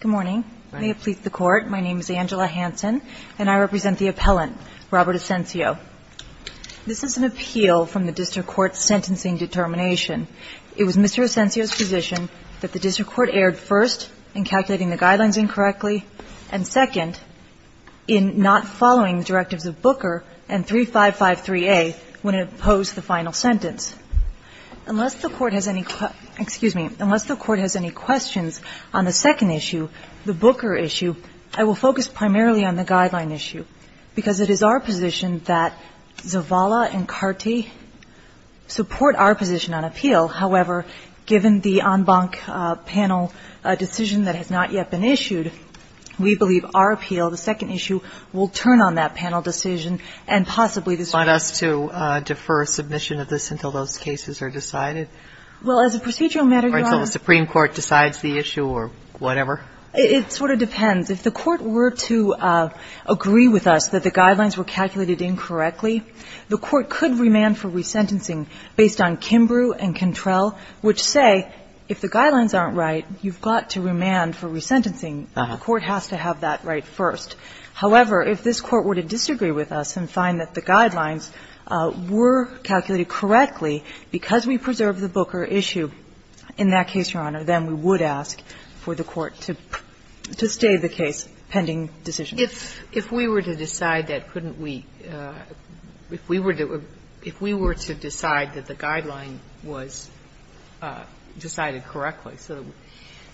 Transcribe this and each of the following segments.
Good morning. May it please the Court, my name is Angela Hansen, and I represent the appellant, Robert Ascencio. This is an appeal from the district court's sentencing determination. It was Mr. Ascencio's position that the district court erred first in calculating the guidelines incorrectly and second in not following the directives of Booker and 3553A when it opposed the final sentence. Unless the Court has any questions on the second issue, the Booker issue, I will focus primarily on the guideline issue, because it is our position that Zavala and Carte support our position on appeal. However, given the en banc panel decision that has not yet been issued, we believe our appeal, the second issue, will turn on that panel decision and possibly the district court. Do you want us to defer submission of this until those cases are decided? Well, as a procedural matter, Your Honor. Or until the Supreme Court decides the issue or whatever? It sort of depends. If the Court were to agree with us that the guidelines were calculated incorrectly, the Court could remand for resentencing based on Kimbrough and Cantrell, which say, if the guidelines aren't right, you've got to remand for resentencing. The Court has to have that right first. However, if this Court were to disagree with us and find that the guidelines were calculated correctly because we preserved the Booker issue in that case, Your Honor, then we would ask for the Court to stay the case pending decision. If we were to decide that, couldn't we – if we were to decide that the guideline was decided correctly, so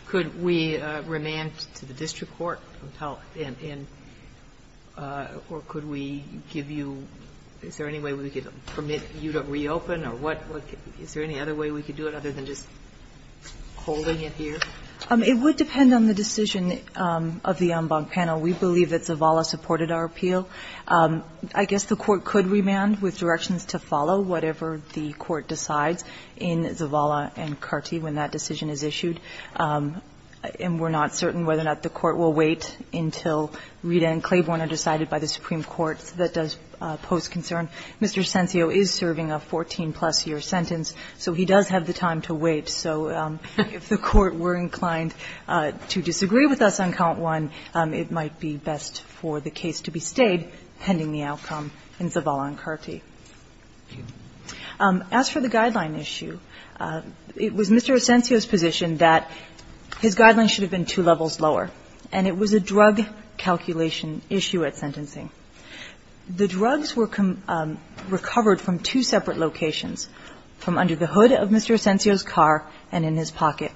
could we remand to the district court? Or could we give you – is there any way we could permit you to reopen? Or what – is there any other way we could do it other than just holding it here? It would depend on the decision of the en banc panel. We believe that Zavala supported our appeal. I guess the Court could remand with directions to follow whatever the Court decides in Zavala and Carty when that decision is issued. And we're not certain whether or not the Court will wait until Rita and Claiborne are decided by the Supreme Court. That does pose concern. Mr. Asensio is serving a 14-plus year sentence, so he does have the time to wait. So if the Court were inclined to disagree with us on count one, it might be best for the case to be stayed pending the outcome in Zavala and Carty. As for the guideline issue, it was Mr. Asensio's position that his guideline should have been two levels lower, and it was a drug calculation issue at sentencing. The drugs were recovered from two separate locations, from under the hood of Mr. Asensio's car and in his pocket.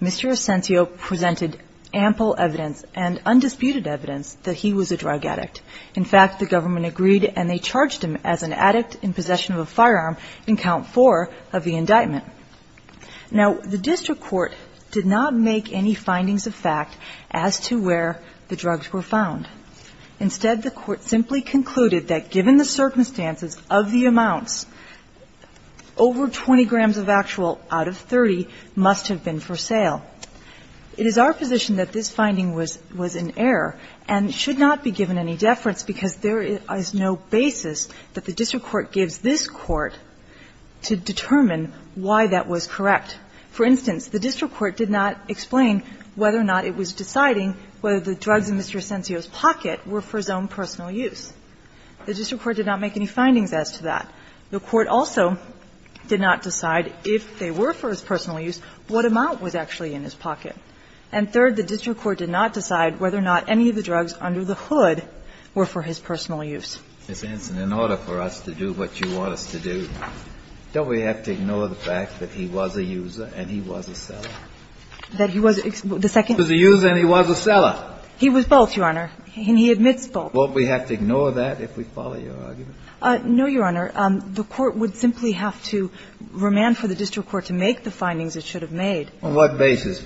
Mr. Asensio presented ample evidence and undisputed evidence that he was a drug addict. In fact, the government agreed and they charged him as an addict in possession of a firearm in count four of the indictment. Now, the district court did not make any findings of fact as to where the drugs were found. Instead, the Court simply concluded that given the circumstances of the amounts, over 20 grams of actual out of 30 must have been for sale. It is our position that this finding was in error and should not be given any deference, because there is no basis that the district court gives this Court to determine why that was correct. For instance, the district court did not explain whether or not it was deciding whether the drugs in Mr. Asensio's pocket were for his own personal use. The district court did not make any findings as to that. The Court also did not decide if they were for his personal use what amount was actually in his pocket. And third, the district court did not decide whether or not any of the drugs under the hood were for his personal use. Kennedy, in order for us to do what you want us to do, don't we have to ignore the fact that he was a user and he was a seller? That he was the second? He was a user and he was a seller. He was both, Your Honor, and he admits both. Won't we have to ignore that if we follow your argument? No, Your Honor. The Court would simply have to remand for the district court to make the findings it should have made. On what basis?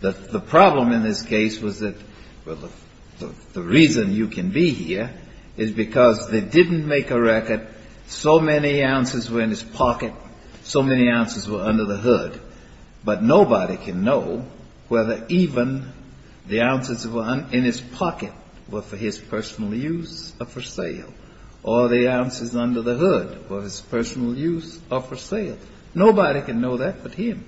The problem in this case was that the reason you can be here is because they didn't make a record, so many ounces were in his pocket, so many ounces were under the hood. But nobody can know whether even the ounces that were in his pocket were for his personal use or for sale, or the ounces under the hood were his personal use or for sale. Nobody can know that but him.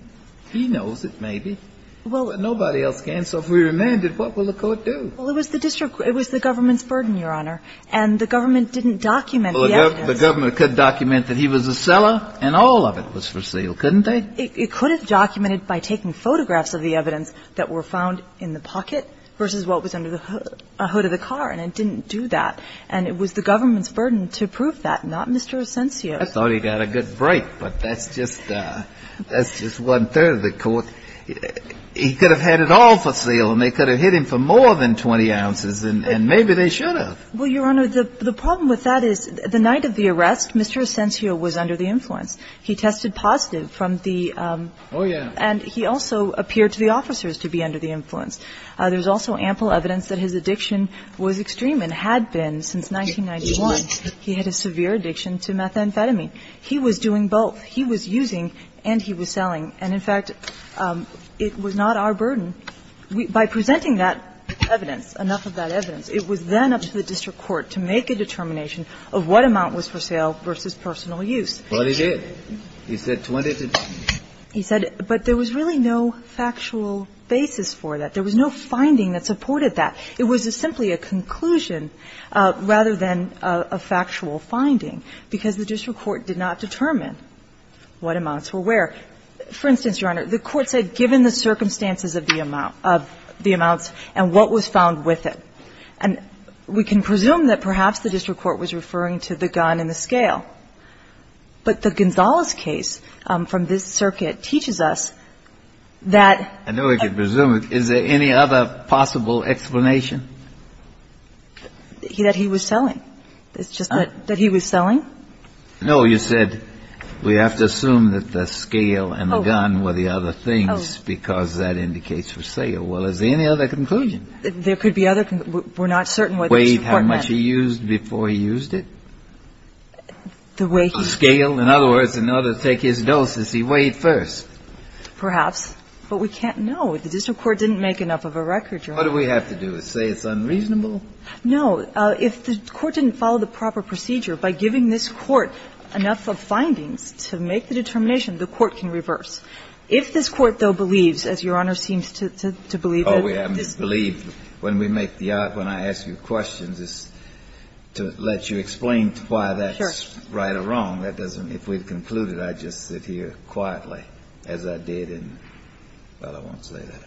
He knows it, maybe, but nobody else can. So if we remand it, what will the Court do? Well, it was the district – it was the government's burden, Your Honor. And the government didn't document the evidence. Well, the government could document that he was a seller and all of it was for sale, couldn't they? It could have documented by taking photographs of the evidence that were found in the And it was the government's burden to prove that, not Mr. Asensio. I thought he got a good break, but that's just one-third of the Court. He could have had it all for sale and they could have hit him for more than 20 ounces and maybe they should have. Well, Your Honor, the problem with that is the night of the arrest, Mr. Asensio was under the influence. He tested positive from the – Oh, yeah. And he also appeared to the officers to be under the influence. There's also ample evidence that his addiction was extreme and had been since 1991. He had a severe addiction to methamphetamine. He was doing both. He was using and he was selling. And, in fact, it was not our burden. By presenting that evidence, enough of that evidence, it was then up to the district court to make a determination of what amount was for sale versus personal use. But it is. He said 20 to 20. He said – but there was really no factual basis for that. There was no finding that supported that. It was simply a conclusion rather than a factual finding because the district court did not determine what amounts were where. For instance, Your Honor, the Court said given the circumstances of the amount – of the amounts and what was found with it. And we can presume that perhaps the district court was referring to the gun and the scale, but the Gonzales case from this circuit teaches us that – Any other possible explanation? That he was selling. It's just that he was selling. No. You said we have to assume that the scale and the gun were the other things because that indicates for sale. Well, is there any other conclusion? There could be other – we're not certain what the district court meant. Weighed how much he used before he used it? The way he – Scale. In other words, in order to take his dose, did he weigh it first? Perhaps. But we can't know. The district court didn't make enough of a record, Your Honor. What do we have to do, say it's unreasonable? No. If the court didn't follow the proper procedure, by giving this court enough of findings to make the determination, the court can reverse. If this court, though, believes, as Your Honor seems to believe that this – Oh, we haven't believed. When we make the – when I ask you questions, it's to let you explain why that's right or wrong. That doesn't – if we'd concluded, I'd just sit here quietly as I did in – well, I won't say that.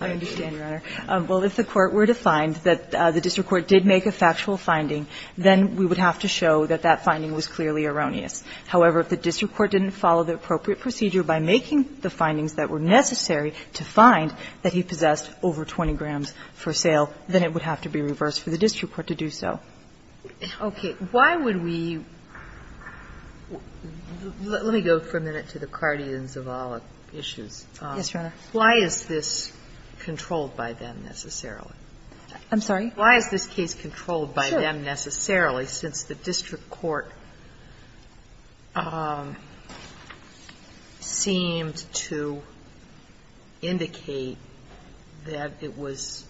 I understand, Your Honor. Well, if the court were to find that the district court did make a factual finding, then we would have to show that that finding was clearly erroneous. However, if the district court didn't follow the appropriate procedure by making the findings that were necessary to find that he possessed over 20 grams for sale, then it would have to be reversed for the district court to do so. Okay. Why would we – let me go for a minute to the Cardians of all issues. Yes, Your Honor. Why is this controlled by them necessarily? I'm sorry? Why is this case controlled by them necessarily, since the district court seemed to indicate that it was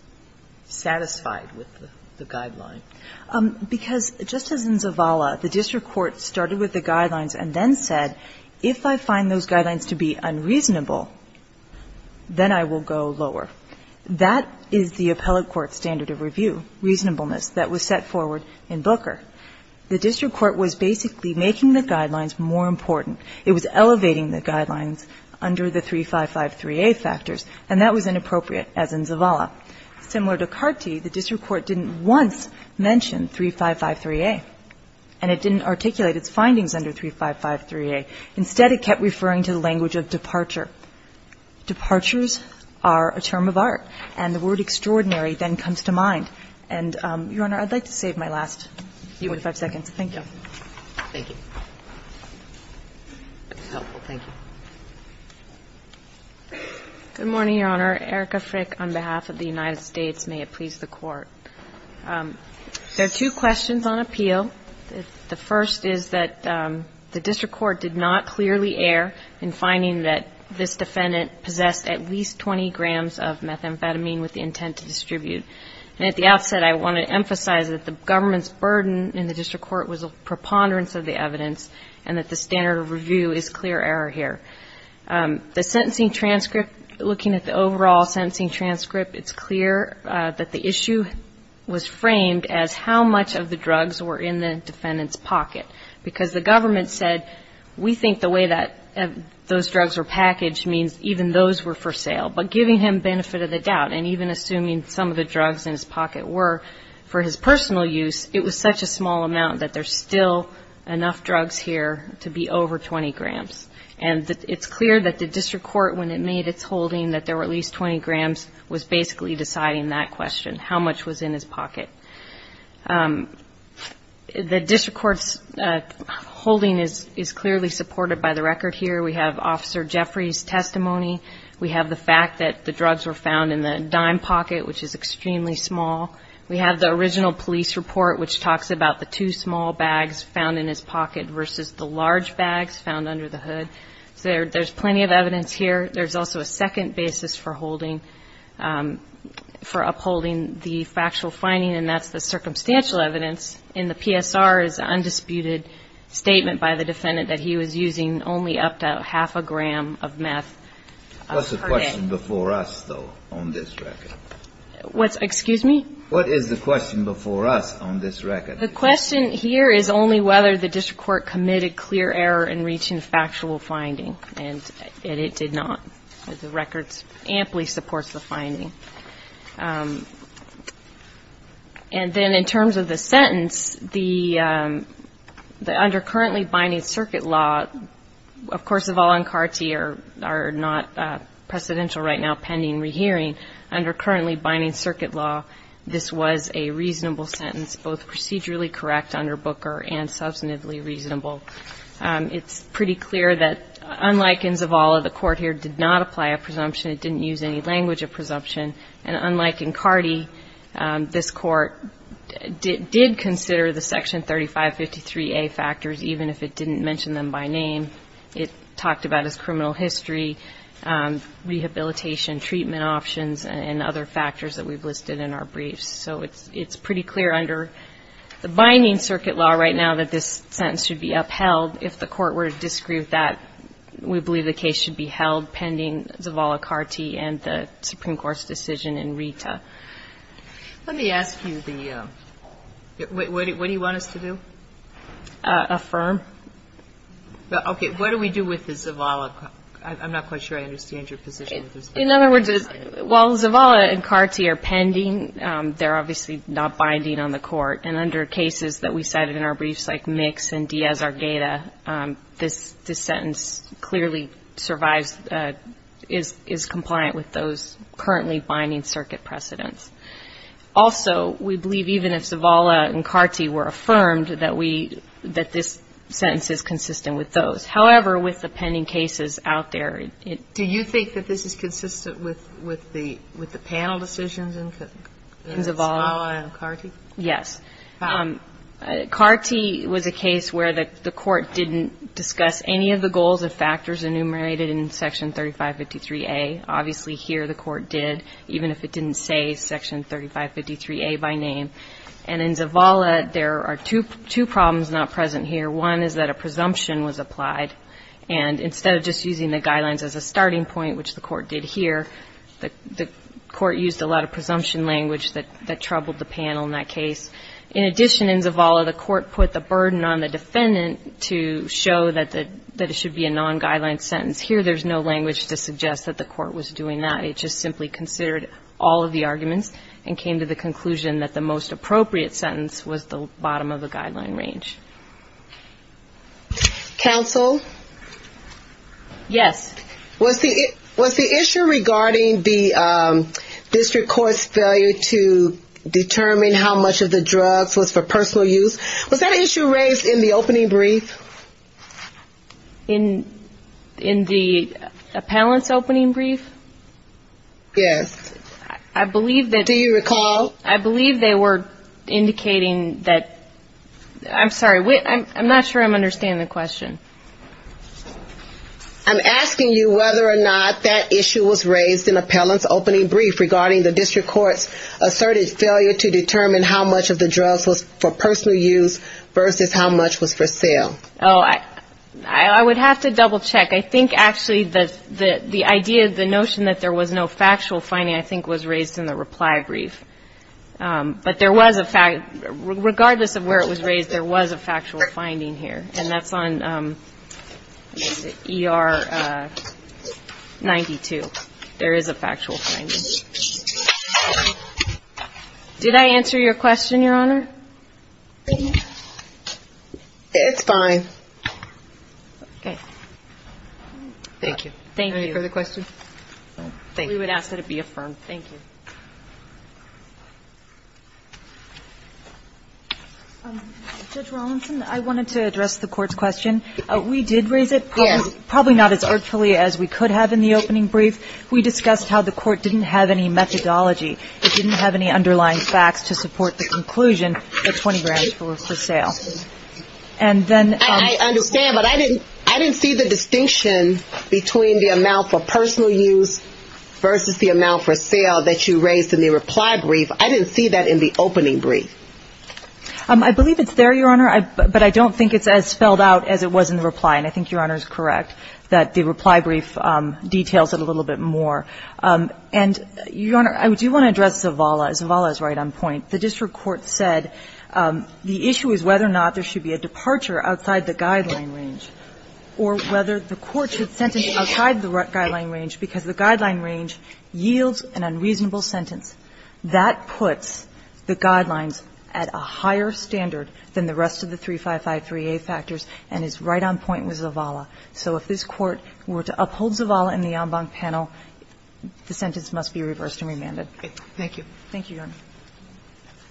satisfied with the guideline? Because, just as in Zavala, the district court started with the guidelines and then said, if I find those guidelines to be unreasonable, then I will go lower. That is the appellate court standard of review, reasonableness, that was set forward in Booker. The district court was basically making the guidelines more important. It was elevating the guidelines under the 3553A factors, and that was inappropriate, as in Zavala. Similar to Carty, the district court didn't once mention 3553A, and it didn't articulate its findings under 3553A. Instead, it kept referring to the language of departure. Departures are a term of art, and the word extraordinary then comes to mind. And, Your Honor, I'd like to save my last few and a half seconds. Thank you. Thank you. That's helpful. Thank you. Good morning, Your Honor. Erica Frick on behalf of the United States. May it please the Court. There are two questions on appeal. The first is that the district court did not clearly err in finding that this defendant possessed at least 20 grams of methamphetamine with the intent to distribute. And at the outset, I want to emphasize that the government's burden in the district court was a preponderance of the evidence, and that the standard of review is clear error here. The sentencing transcript, looking at the overall sentencing transcript, it's clear that the issue was framed as how much of the drugs were in the defendant's pocket. Because the government said, we think the way that those drugs were packaged means even those were for sale. But giving him benefit of the doubt, and even assuming some of the drugs in his pocket were for his personal use, it was such a small amount that there's still enough drugs here to be over 20 grams. And it's clear that the district court, when it made its holding that there were at least 20 grams, was basically deciding that question, how much was in his pocket. The district court's holding is clearly supported by the record here. We have Officer Jeffrey's testimony. We have the fact that the drugs were found in the dime pocket, which is extremely small. We have the original police report, which talks about the two small bags found in his pocket versus the large bags found under the hood. There's plenty of evidence here. There's also a second basis for upholding the factual finding, and that's the circumstantial evidence in the PSR's undisputed statement by the defendant that he was using only up to half a gram of meth per day. What's the question before us, though, on this record? Excuse me? What is the question before us on this record? The question here is only whether the district court committed clear error in reaching factual finding, and it did not. The record amply supports the finding. And then in terms of the sentence, under currently binding circuit law, of course, the Volon Carti are not precedential right now, pending rehearing. Under currently binding circuit law, this was a reasonable sentence, both procedurally correct under Booker and substantively reasonable. It's pretty clear that, unlike in Zavala, the court here did not apply a presumption. It didn't use any language of presumption. And unlike in Carti, this court did consider the Section 3553A factors, even if it didn't mention them by name. It talked about his criminal history, rehabilitation, treatment options, and other factors that we've listed in our briefs. So it's pretty clear under the binding circuit law right now that this sentence should be upheld. If the court were to disagree with that, we believe the case should be held pending Zavala-Carti and the Supreme Court's decision in RETA. Let me ask you the – what do you want us to do? Affirm. Okay. What do we do with the Zavala – I'm not quite sure I understand your position. In other words, while Zavala and Carti are pending, they're obviously not binding on the court. And under cases that we cited in our briefs, like Mix and Diaz-Argeta, this sentence clearly survives – is compliant with those currently binding circuit precedents. Also, we believe even if Zavala and Carti were affirmed that we – that this sentence is consistent with those. However, with the pending cases out there, it – Do you think that this is consistent with the panel decisions in Zavala and Carti? Yes. Carti was a case where the court didn't discuss any of the goals and factors enumerated in Section 3553A. Obviously, here the court did, even if it didn't say Section 3553A by name. And in Zavala, there are two problems not present here. One is that a presumption was applied. And instead of just using the guidelines as a starting point, which the court did here, the court used a lot of presumption language that troubled the panel in that case. In addition, in Zavala, the court put the burden on the defendant to show that it should be a non-guideline sentence. Here, there's no language to suggest that the court was doing that. It just simply considered all of the arguments and came to the conclusion that the most appropriate sentence was the bottom of the guideline range. Counsel? Yes. Was the issue regarding the district court's failure to determine how much of the drugs was for personal use, was that issue raised in the opening brief? In the appellant's opening brief? Yes. I believe that... Do you recall? I believe they were indicating that... I'm sorry, I'm not sure I'm understanding the question. I'm asking you whether or not that issue was raised in appellant's opening brief regarding the district court's asserted failure to determine how much of the drugs was for personal use versus how much was for sale. Oh, I would have to double check. I think actually the idea, the notion that there was no factual finding, I think was raised in the reply brief. But there was a fact, regardless of where it was raised, there was a factual finding here. And that's on ER 92. There is a factual finding. Did I answer your question, Your Honor? It's fine. Okay. Thank you. Thank you. Any further questions? We would ask that it be affirmed. Thank you. Judge Rawlinson, I wanted to address the court's question. We did raise it, probably not as artfully as we could have in the opening brief. We discussed how the court didn't have any methodology. It didn't have any underlying facts to support the conclusion that 20 grams were for sale. And then... I understand, but I didn't see the distinction between the amount for personal use versus the amount for sale that you raised in the reply brief. I didn't see that in the opening brief. I believe it's there, Your Honor, but I don't think it's as spelled out as it was in the reply. And I think Your Honor is correct that the reply brief details it a little bit more. And Your Honor, I do want to address Zavala. Zavala is right on point. The district court said the issue is whether or not there should be a departure outside the guideline range or whether the court should sentence outside the guideline range because the guideline range yields an unreasonable sentence. That puts the guidelines at a higher standard than the rest of the 3553A factors and is right on point with Zavala. So if this Court were to uphold Zavala in the en banc panel, the sentence must be reversed and remanded. Thank you. Thank you, Your Honor.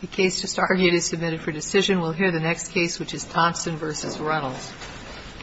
The case just argued is submitted for decision. We'll hear the next case, which is Thompson v. Reynolds.